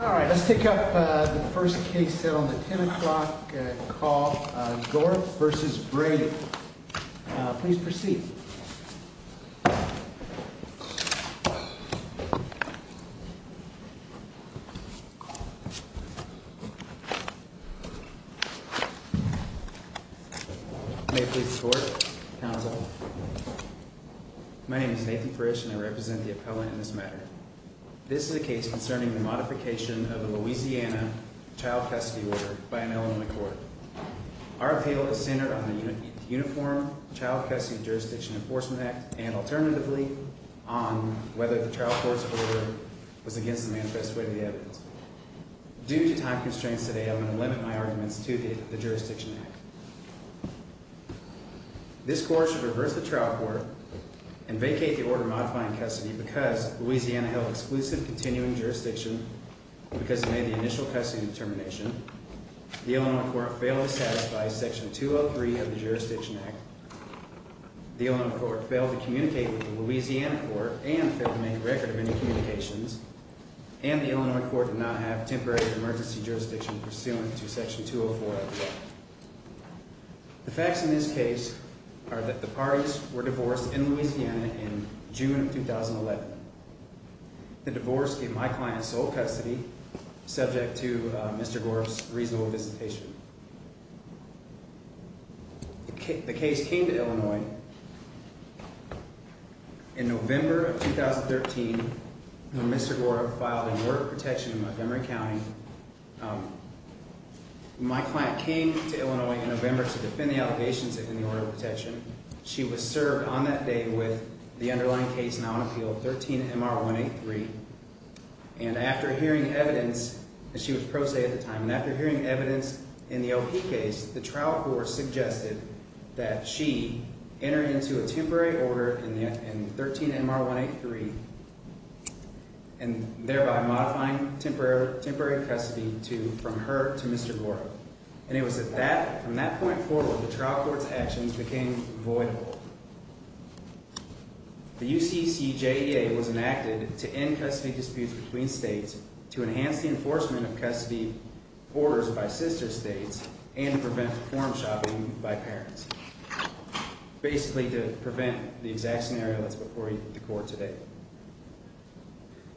Alright, let's take up the first case set on the 10 o'clock call, Dorup v. Brady. Please proceed. May it please the Court, Counsel. My name is Nathan Frisch and I represent the appellant in this matter. This is a case concerning the modification of a Louisiana child custody order by an Illinois court. Our appeal is centered on the Uniform Child Custody and Jurisdiction Enforcement Act and, alternatively, on whether the trial court's order was against the manifest way of the evidence. Due to time constraints today, I'm going to limit my arguments to the jurisdiction act. This court should reverse the trial court and vacate the order modifying custody because Louisiana held exclusive continuing jurisdiction because it made the initial custody determination, the Illinois court failed to satisfy section 203 of the jurisdiction act, the Illinois court failed to communicate with the Louisiana court and failed to make a record of any communications, and the Illinois court did not have temporary or emergency jurisdiction pursuant to section 204 of the act. The facts in this case are that the parties were divorced in Louisiana in June of 2011. The divorce gave my client sole custody subject to Mr. Dorup's reasonable visitation. The case came to Illinois in November of 2013 when Mr. Dorup filed an order of protection in Montgomery County. My client came to Illinois in November to defend the allegations in the order of protection. She was served on that day with the underlying case now in appeal, 13-MR-183, and after hearing evidence, she was pro se at the time, and after hearing evidence in the LP case, the trial court suggested that she enter into a temporary order in 13-MR-183, and thereby modifying temporary custody from her to Mr. Dorup, and it was from that point forward that the trial court's actions became voidable. The UCCJEA was enacted to end custody disputes between states, to enhance the enforcement of custody orders by sister states, and to prevent form shopping by parents, basically to prevent the exact scenario that's before the court today.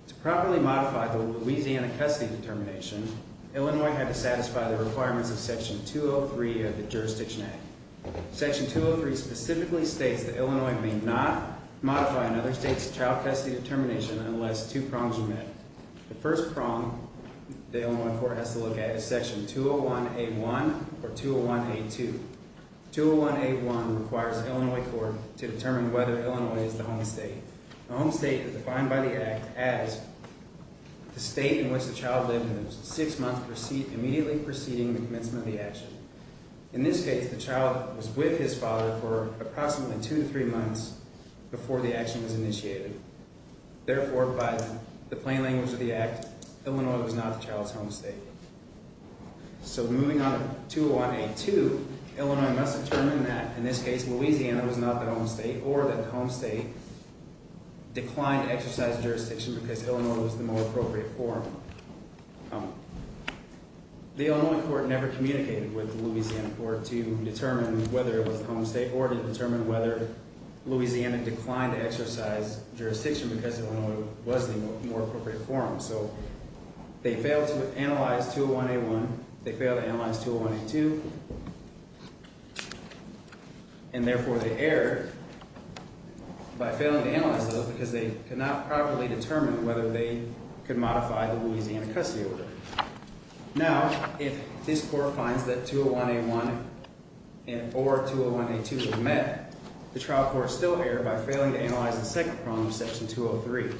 To properly modify the Louisiana custody determination, Illinois had to satisfy the requirements of Section 203 of the Jurisdiction Act. Section 203 specifically states that Illinois may not modify another state's child custody determination unless two prongs are met. The first prong the Illinois court has to look at is Section 201A1 or 201A2. 201A1 requires the Illinois court to determine whether Illinois is the home state. The home state is defined by the Act as the state in which the child lived six months immediately preceding the commencement of the action. In this case, the child was with his father for approximately two to three months before the action was initiated. Therefore, by the plain language of the Act, Illinois was not the child's home state. So moving on to 201A2, Illinois must determine that, in this case, Louisiana was not the home state or that the home state declined to exercise jurisdiction because Illinois was the more appropriate forum. The Illinois court never communicated with the Louisiana court to determine whether it was the home state or to determine whether Louisiana declined to exercise jurisdiction because Illinois was the more appropriate forum. So they failed to analyze 201A1, they failed to analyze 201A2, and therefore they erred by failing to analyze those because they could not properly determine whether they could modify the Louisiana custody order. Now, if this court finds that 201A1 or 201A2 were met, the trial court still erred by failing to analyze the second prong of Section 203.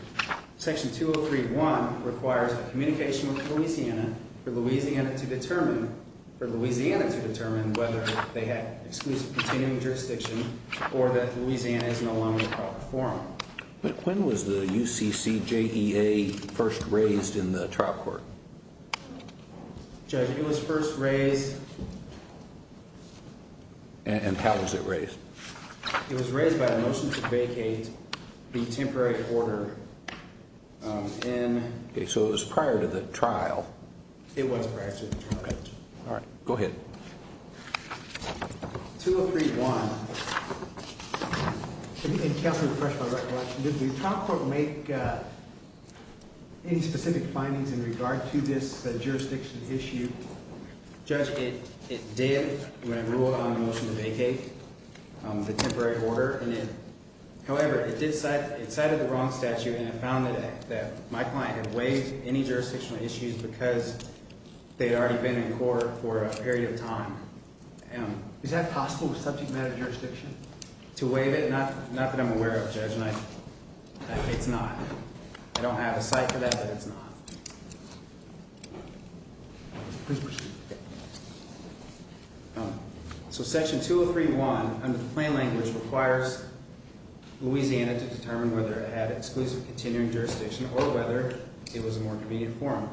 Section 203.1 requires a communication with Louisiana for Louisiana to determine whether they had exclusive continuing jurisdiction or that Louisiana is no longer the proper forum. When was the UCCJEA first raised in the trial court? Judge, it was first raised... And how was it raised? It was raised by a motion to vacate the temporary order in... Okay, so it was prior to the trial. It was prior to the trial. Okay, all right, go ahead. 203.1... Can you help me refresh my recollection? Did the trial court make any specific findings in regard to this jurisdiction issue? Judge, it did when it ruled on the motion to vacate the temporary order. However, it cited the wrong statute and it found that my client had waived any jurisdictional issues because they'd already been in court for a period of time. Is that possible with subject matter jurisdiction? To waive it? Not that I'm aware of, Judge, and it's not. I don't have a site for that, but it's not. Please proceed. So Section 203.1, under the plain language, requires Louisiana to determine whether it had exclusive continuing jurisdiction or whether it was a more convenient form.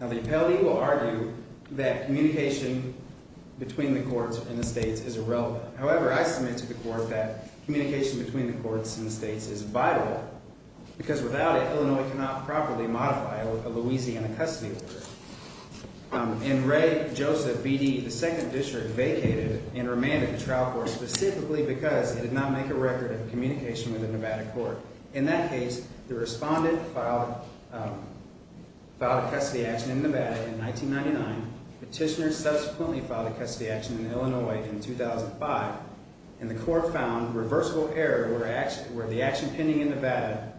Now, the appellee will argue that communication between the courts and the states is irrelevant. However, I submit to the court that communication between the courts and the states is vital because without it, Illinois cannot properly modify a Louisiana custody order. And Ray Joseph, B.D., the second district, vacated and remanded the trial court specifically because it did not make a record of communication with the Nevada court. In that case, the respondent filed a custody action in Nevada in 1999. Petitioners subsequently filed a custody action in Illinois in 2005, and the court found reversible error where the action pending in Nevada,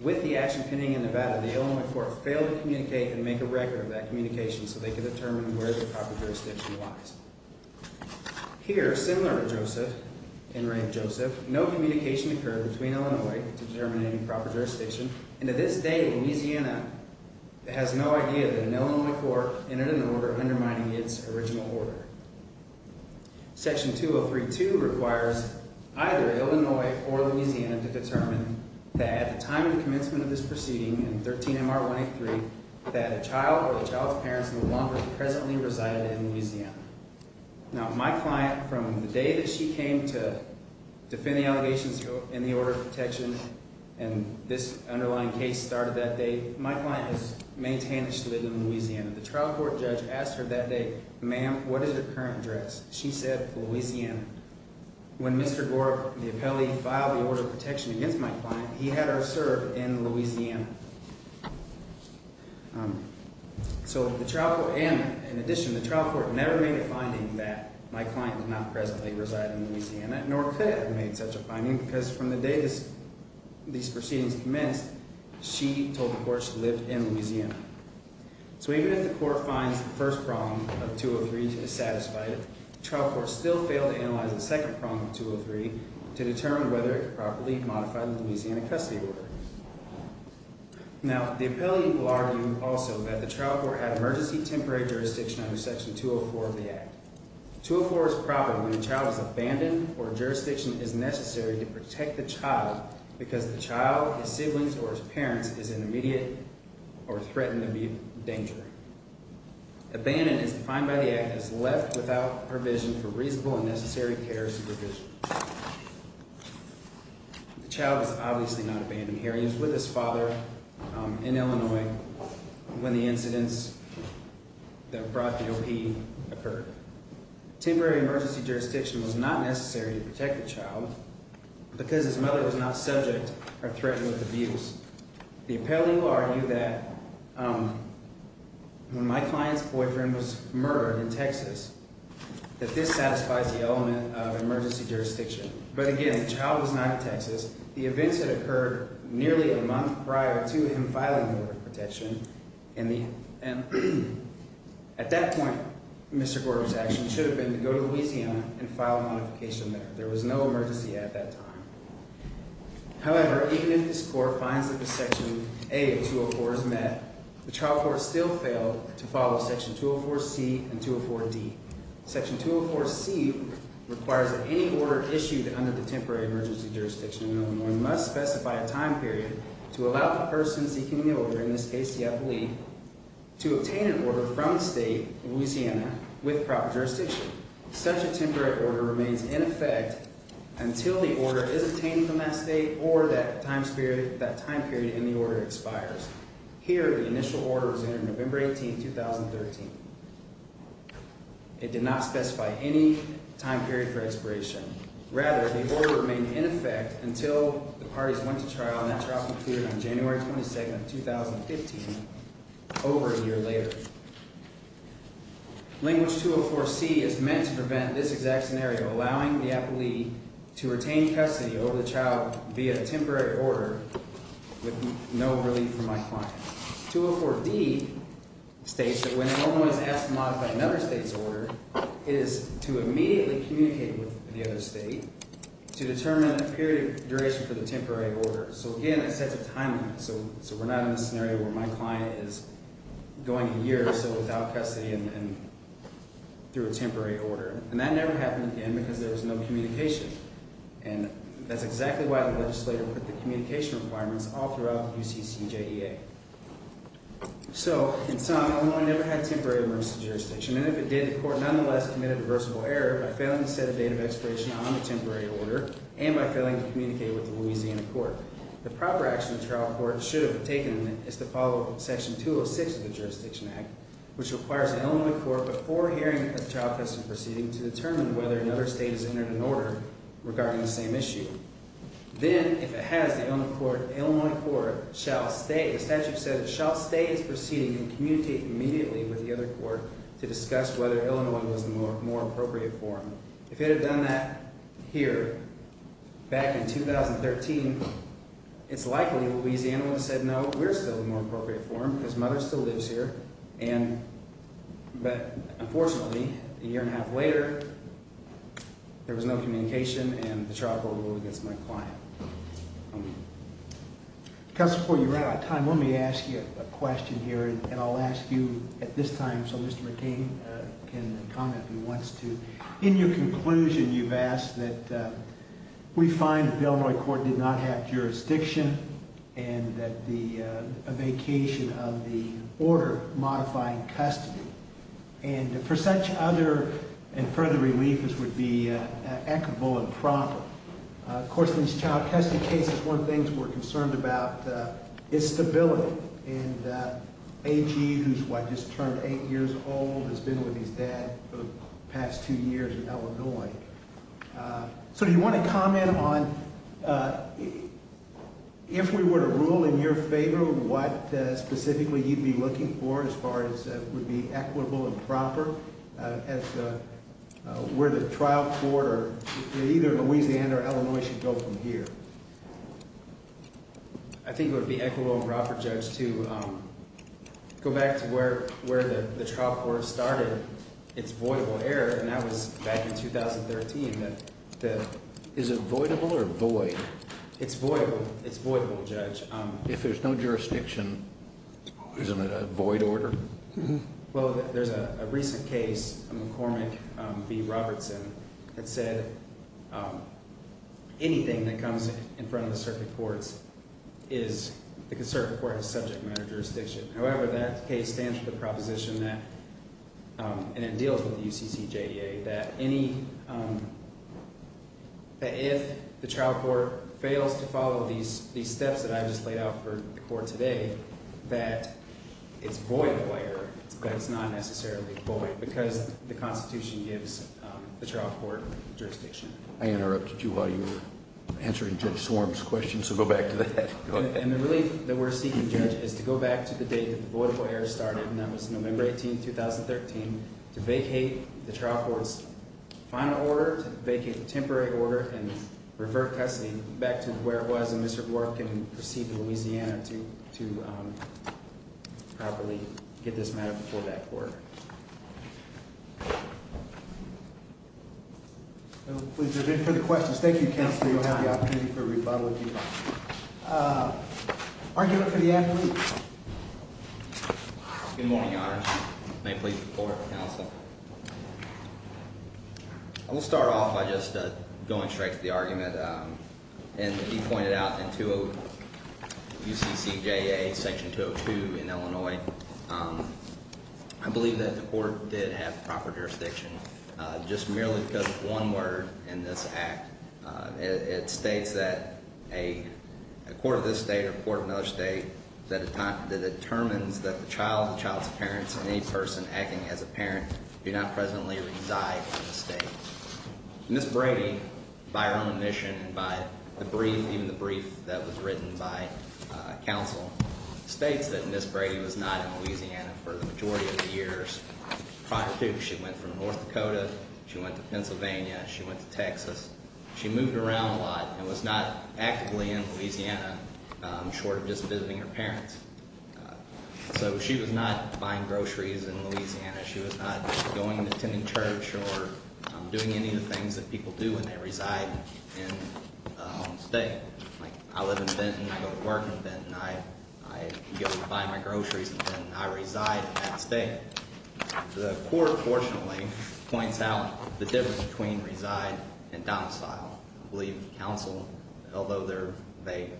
with the action pending in Nevada, the Illinois court failed to communicate and make a record of that communication so they could determine where the proper jurisdiction lies. Here, similar to Joseph and Ray Joseph, no communication occurred between Illinois to determine any proper jurisdiction, and to this day, Louisiana has no idea that an Illinois court entered an order undermining its original order. Section 203.2 requires either Illinois or Louisiana to determine that at the time of the commencement of this proceeding, in 13 M.R. 183, that a child or the child's parents no longer presently resided in Louisiana. Now, my client, from the day that she came to defend the allegations in the order of protection, and this underlying case started that day, my client has maintained that she lived in Louisiana. The trial court judge asked her that day, Ma'am, what is your current address? She said, Louisiana. When Mr. Gore, the appellee, filed the order of protection against my client, he had her serve in Louisiana. So the trial court, and in addition, the trial court never made a finding that my client did not presently reside in Louisiana, nor could it have made such a finding, because from the day these proceedings commenced, she told the court she lived in Louisiana. So even if the court finds the first problem of 203 dissatisfied, the trial court still failed to analyze the second problem of 203 to determine whether it properly modified the Louisiana custody order. Now, the appellee will argue also that the trial court had emergency temporary jurisdiction under Section 204 of the Act. 204 is proper when a child is abandoned or jurisdiction is necessary to protect the child because the child, his siblings, or his parents is in immediate or threatened to be in danger. Abandoned, as defined by the Act, is left without provision for reasonable and necessary care or supervision. The child is obviously not abandoned here. He was with his father in Illinois when the incidents that brought the O.P. occurred. Temporary emergency jurisdiction was not necessary to protect the child because his mother was not subject or threatened with abuse. The appellee will argue that when my client's boyfriend was murdered in Texas, that this satisfies the element of emergency jurisdiction. But again, the child was not in Texas. The events had occurred nearly a month prior to him filing for protection. At that point, Mr. Gorter's action should have been to go to Louisiana and file a modification there. There was no emergency at that time. However, even if this Court finds that the Section A of 204 is met, the trial court still failed to follow Section 204C and 204D. Section 204C requires that any order issued under the temporary emergency jurisdiction in Illinois must specify a time period to allow the person seeking the order, in this case the appellee, to obtain an order from the state of Louisiana with proper jurisdiction. Such a temporary order remains in effect until the order is obtained from that state or that time period in the order expires. Here, the initial order was entered November 18, 2013. It did not specify any time period for expiration. Rather, the order remained in effect until the parties went to trial, and that trial concluded on January 22, 2015, over a year later. Language 204C is meant to prevent this exact scenario, allowing the appellee to retain custody over the child via a temporary order with no relief from my client. 204D states that when an Illinois is asked to modify another state's order, it is to immediately communicate with the other state to determine a period of duration for the temporary order. So again, it sets a time limit, so we're not in a scenario where my client is going a year or so without custody and through a temporary order. And that never happened again because there was no communication. And that's exactly why the legislator put the communication requirements all throughout the UCCJEA. So, in sum, Illinois never had temporary emergency jurisdiction, and if it did, the court nonetheless committed a reversible error by failing to set a date of expiration on the temporary order and by failing to communicate with the Louisiana court. The proper action the trial court should have taken is to follow Section 206 of the Jurisdiction Act, which requires the Illinois court, before hearing a trial precedent proceeding, to determine whether another state has entered an order regarding the same issue. Then, if it has, the Illinois court shall stay. The statute said it shall stay its proceeding and communicate immediately with the other court to discuss whether Illinois was the more appropriate forum. If it had done that here, back in 2013, it's likely Louisiana would have said, no, we're still the more appropriate forum because Mother still lives here. But, unfortunately, a year and a half later, there was no communication, and the trial court ruled against my client. Counsel, before you run out of time, let me ask you a question here, and I'll ask you at this time so Mr. McCain can comment if he wants to. In your conclusion, you've asked that we find that the Illinois court did not have jurisdiction and that the vacation of the order modifying custody, and for such other and further relief, this would be equitable and proper. Of course, in these child custody cases, one of the things we're concerned about is stability, and AG, who's what, just turned eight years old, has been with his dad for the past two years in Illinois. So, do you want to comment on, if we were to rule in your favor, what specifically you'd be looking for as far as would be equitable and proper, as where the trial court, either Louisiana or Illinois, should go from here? I think it would be equitable and proper, Judge, to go back to where the trial court started, its voidable error, and that was back in 2013. Is it voidable or void? It's voidable. It's voidable, Judge. If there's no jurisdiction, isn't it a void order? Well, there's a recent case, a McCormick v. Robertson, that said anything that comes in front of the circuit courts, the circuit court has subject matter jurisdiction. However, that case stands for the proposition that, and it deals with the UCCJDA, that if the trial court fails to follow these steps that I just laid out for the court today, that it's voidable error, but it's not necessarily void, because the Constitution gives the trial court jurisdiction. I interrupted you while you were answering Judge Swarm's question, so go back to that. And the relief that we're seeking, Judge, is to go back to the date that the voidable error started, and that was November 18, 2013, to vacate the trial court's final order, to vacate the temporary order and refer custody back to where it was, so Mr. Dworkin can proceed to Louisiana to properly get this matter before that court. Please, we're good for the questions. Thank you, Counselor. You'll have the opportunity for rebuttal if you'd like. Argument for the athlete. Good morning, Your Honor. May it please the Court and Counsel. As you pointed out in UCCJA Section 202 in Illinois, I believe that the court did have proper jurisdiction, just merely because of one word in this act. It states that a court of this state or a court of another state that determines that the child, the child's parents, and any person acting as a parent do not presently reside in the state. Ms. Brady, by her own admission and by the brief, even the brief that was written by Counsel, states that Ms. Brady was not in Louisiana for the majority of the years prior to. She went from North Dakota, she went to Pennsylvania, she went to Texas. She moved around a lot and was not actively in Louisiana, short of just visiting her parents. So she was not buying groceries in Louisiana. She was not going and attending church or doing any of the things that people do when they reside in a home state. Like, I live in Benton, I go to work in Benton, I go buy my groceries in Benton. I reside in that state. The court, fortunately, points out the difference between reside and domicile. I believe Counsel, although they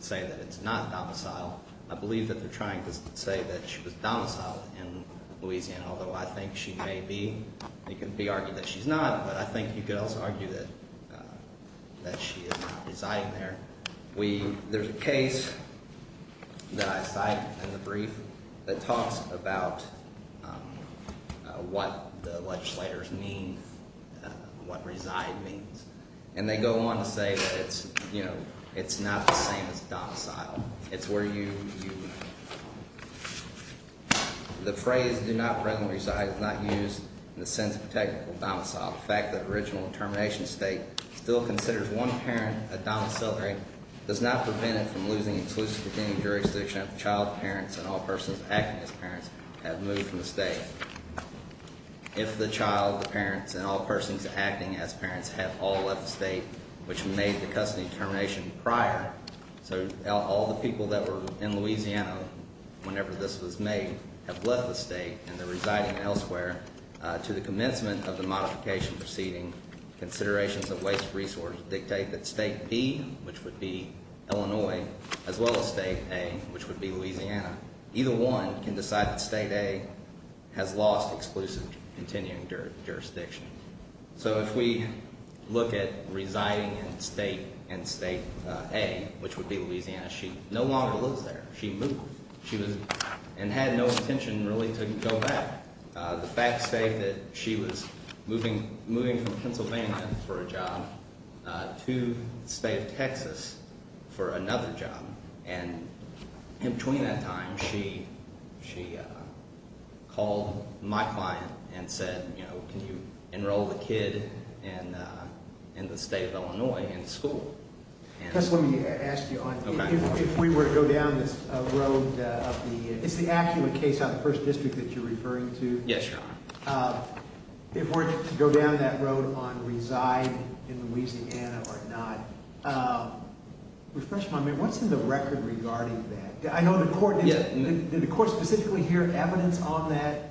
say that it's not domicile, I believe that they're trying to say that she was domiciled in Louisiana, although I think she may be. It can be argued that she's not, but I think you could also argue that she is not residing there. We, there's a case that I cite in the brief that talks about what the legislators mean, what reside means. And they go on to say that it's, you know, it's not the same as domicile. It's where you, the phrase, do not presently reside, is not used in the sense of a technical domicile. The fact that the original termination state still considers one parent a domiciliary does not prevent it from losing exclusive beginning jurisdiction if the child, parents, and all persons acting as parents have moved from the state. If the child, the parents, and all persons acting as parents have all left the state, which made the custody termination prior, so all the people that were in Louisiana whenever this was made have left the state and they're residing elsewhere, to the commencement of the modification proceeding, considerations of waste resource dictate that state B, which would be Illinois, as well as state A, which would be Louisiana, either one can decide that state A has lost exclusive continuing jurisdiction. So if we look at residing in state and state A, which would be Louisiana, she no longer lives there. She moved. She was, and had no intention really to go back. The facts say that she was moving from Pennsylvania for a job to the state of Texas for another job. And in between that time, she called my client and said, you know, can you enroll the kid in the state of Illinois in school? Let me ask you, if we were to go down this road of the, it's the actual case of the first district that you're referring to. Yes, Your Honor. If we're to go down that road on reside in Louisiana or not, refresh my memory, what's in the record regarding that? I know the court, did the court specifically hear evidence on that?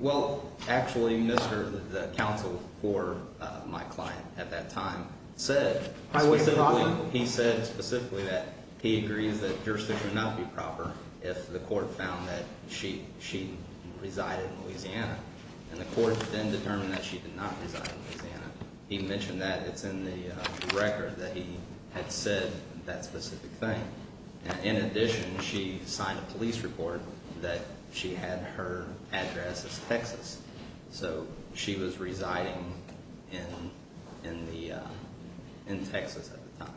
Well, actually, Mr., the counsel for my client at that time said, he said specifically that he agrees that jurisdiction would not be proper if the court found that she, she resided in Louisiana. And the court then determined that she did not reside in Louisiana. He mentioned that it's in the record that he had said that specific thing. And in addition, she signed a police report that she had her address as Texas. So she was residing in, in the, in Texas at the time.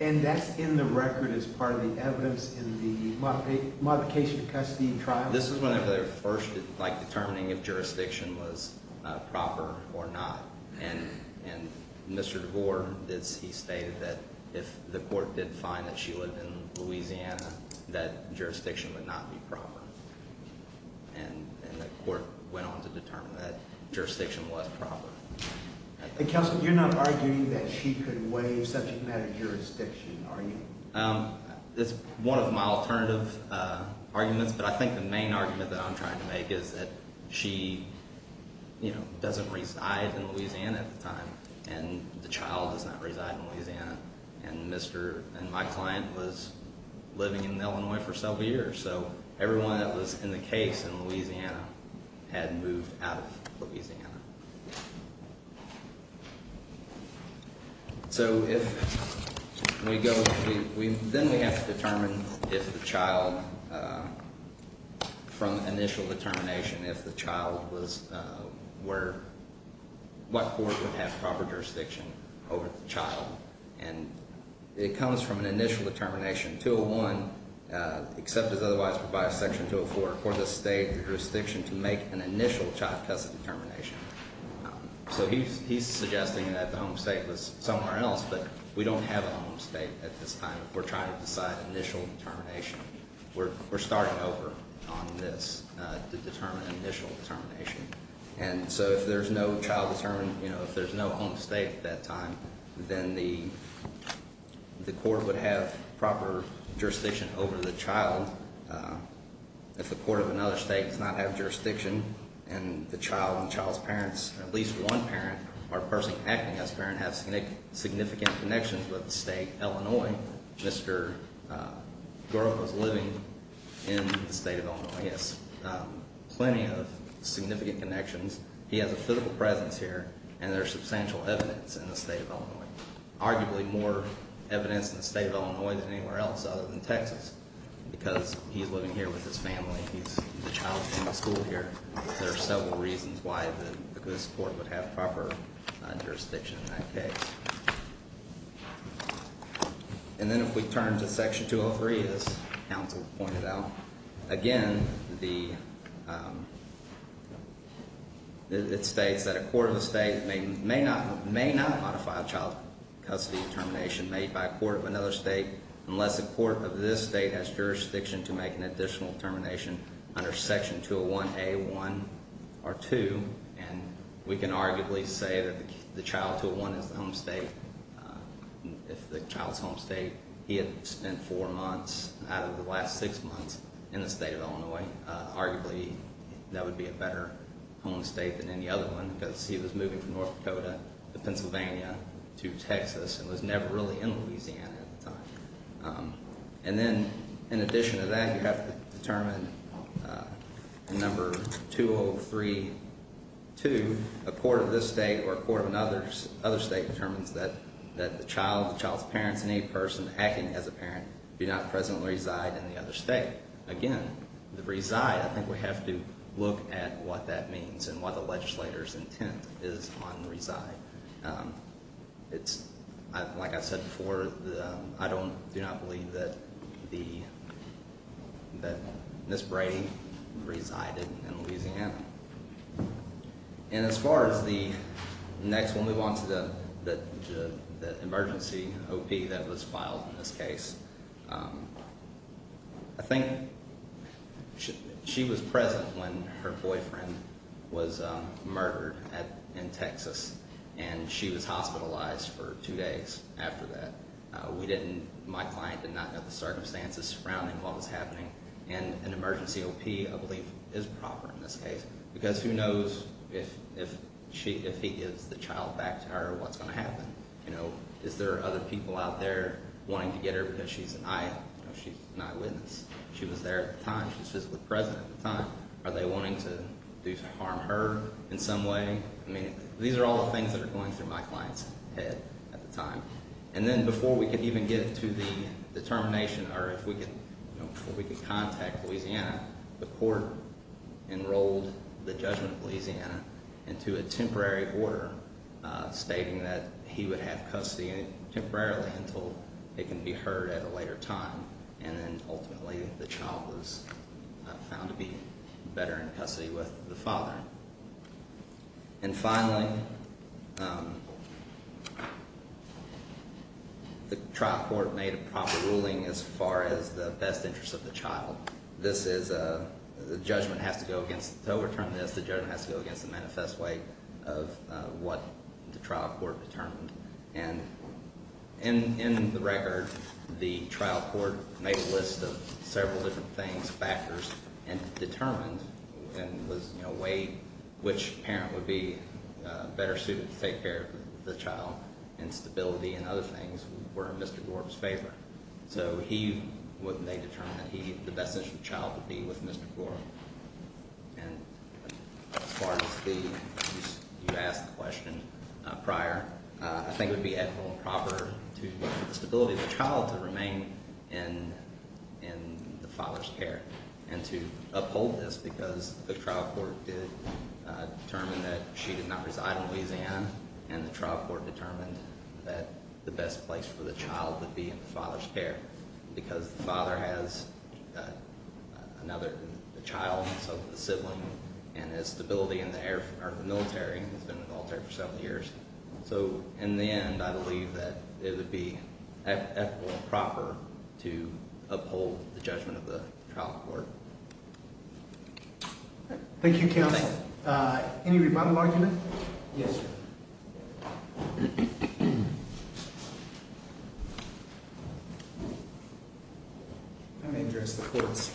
And that's in the record as part of the evidence in the modification of custody trial? This was one of the first, like determining if jurisdiction was proper or not. And, and Mr. DeVore, it's, he stated that if the court did find that she lived in Louisiana, that jurisdiction would not be proper. And, and the court went on to determine that jurisdiction was proper. And counsel, you're not arguing that she could waive subject matter jurisdiction, are you? It's one of my alternative arguments, but I think the main argument that I'm trying to make is that she, you know, doesn't reside in Louisiana at the time. And the child does not reside in Louisiana. And Mr., and my client was living in Illinois for several years. So everyone that was in the case in Louisiana had moved out of Louisiana. So if we go, we, then we have to determine if the child, from initial determination, if the child was where, what court would have proper jurisdiction over the child. And it comes from an initial determination, 201, except as otherwise provided section 204, for the state jurisdiction to make an initial child custody determination. So he's, he's suggesting that the home state was somewhere else, but we don't have a home state at this time. We're trying to decide initial determination. We're, we're starting over on this to determine initial determination. And so if there's no child determined, you know, if there's no home state at that time, then the, the court would have proper jurisdiction over the child. If the court of another state does not have jurisdiction and the child and the child's parents, at least one parent or person acting as a parent, has significant connections with the state, Illinois. Mr. Garlick was living in the state of Illinois, yes. Plenty of significant connections. He has a physical presence here and there's substantial evidence in the state of Illinois. Arguably more evidence in the state of Illinois than anywhere else other than Texas. Because he's living here with his family. He's, the child came to school here. There are several reasons why the, this court would have proper jurisdiction in that case. And then if we turn to section 203, as counsel pointed out. Again, the, it states that a court of the state may not, may not modify a child custody determination made by a court of another state. Unless the court of this state has jurisdiction to make an additional determination under section 201A1 or 2. And we can arguably say that the child 201 is the home state. If the child's home state, he had spent four months out of the last six months in the state of Illinois. Arguably, that would be a better home state than any other one. Because he was moving from North Dakota to Pennsylvania to Texas and was never really in Louisiana at the time. And then, in addition to that, you have to determine in number 203-2. A court of this state or a court of another state determines that the child, the child's parents and any person acting as a parent do not presently reside in the other state. Again, the reside, I think we have to look at what that means and what the legislator's intent is on the reside. It's, like I said before, I don't, do not believe that the, that Ms. Brady resided in Louisiana. And as far as the next, we'll move on to the emergency OP that was filed in this case. I think she was present when her boyfriend was murdered in Texas. And she was hospitalized for two days after that. We didn't, my client did not know the circumstances surrounding what was happening. And an emergency OP, I believe, is proper in this case. Because who knows if she, if he gives the child back to her, what's going to happen? You know, is there other people out there wanting to get her because she's an eye, you know, she's an eyewitness. She was there at the time. She was physically present at the time. Are they wanting to harm her in some way? I mean, these are all the things that are going through my client's head at the time. And then before we could even get to the determination or if we could, you know, before we could contact Louisiana, the court enrolled the judgment of Louisiana into a temporary order stating that he would have custody temporarily until it can be heard at a later time. And then ultimately the child was found to be better in custody with the father. And finally, the trial court made a proper ruling as far as the best interest of the child. This is a, the judgment has to go against, to overturn this, the judgment has to go against the manifest way of what the trial court determined. And in the record, the trial court made a list of several different things, factors, and determined and was, you know, weighed which parent would be better suited to take care of the child. Instability and other things were in Mr. Dwarf's favor. So he would, they determined that he, the best interest of the child would be with Mr. Dwarf. And as far as the, you asked the question prior, I think it would be adequate and proper to the stability of the child to remain in the father's care. And to uphold this, because the trial court did determine that she did not reside in Louisiana. And the trial court determined that the best place for the child would be in the father's care. Because the father has another, a child, so the sibling, and his stability in the air, or the military, he's been in the military for several years. So in the end, I believe that it would be proper to uphold the judgment of the trial court. Thank you, Counsel. Any rebuttal argument? Yes, sir. Let me address the court's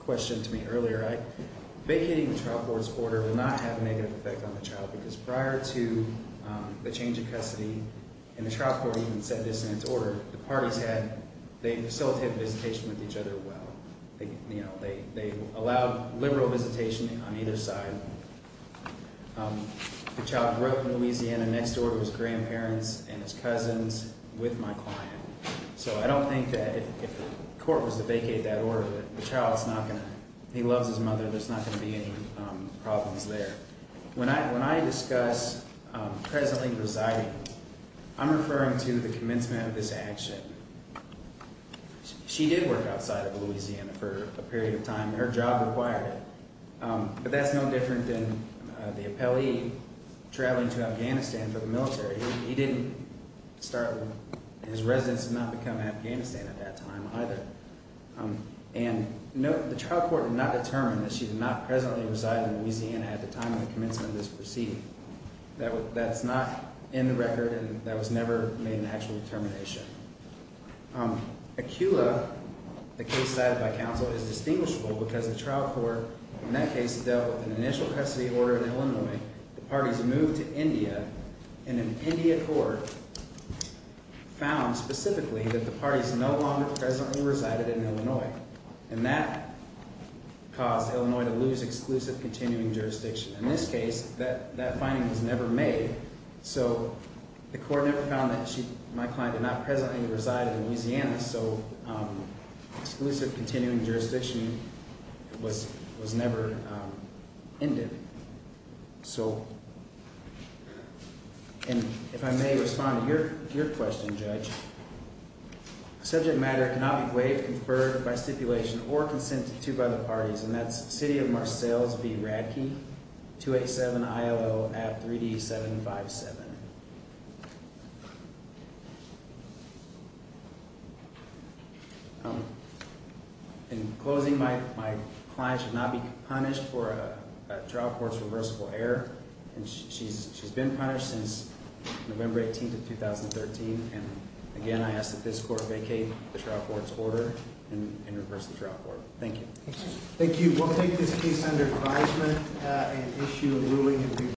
question to me earlier. Vacating the trial court's order will not have a negative effect on the child. Because prior to the change of custody, and the trial court even said this in its order, the parties had, they facilitated visitation with each other well. They, you know, they allowed liberal visitation on either side. The child grew up in Louisiana. Next door to his grandparents and his cousins with my client. So I don't think that if the court was to vacate that order, the child's not going to, he loves his mother, there's not going to be any problems there. When I discuss presently residing, I'm referring to the commencement of this action. She did work outside of Louisiana for a period of time. Her job required it. But that's no different than the appellee traveling to Afghanistan for the military. He didn't start, his residence did not become Afghanistan at that time either. And the trial court did not determine that she did not presently reside in Louisiana at the time of the commencement of this proceeding. That's not in the record and that was never made an actual determination. Aquila, the case cited by counsel, is distinguishable because the trial court in that case dealt with an initial custody order in Illinois. The parties moved to India and an India court found specifically that the parties no longer presently resided in Illinois. And that caused Illinois to lose exclusive continuing jurisdiction. In this case, that finding was never made. So the court never found that my client did not presently reside in Louisiana. So exclusive continuing jurisdiction was never ended. So, and if I may respond to your question, Judge, subject matter cannot be waived, conferred by stipulation, or consented to by the parties. And that's City of Marcells v. Radke, 287-ILL-AB-3D757. In closing, my client should not be punished for a trial court's reversible error. And she's been punished since November 18th of 2013. And again, I ask that this court vacate the trial court's order and reverse the trial court. Thank you. Thank you. We'll take this case under advisement and issue a ruling in due course.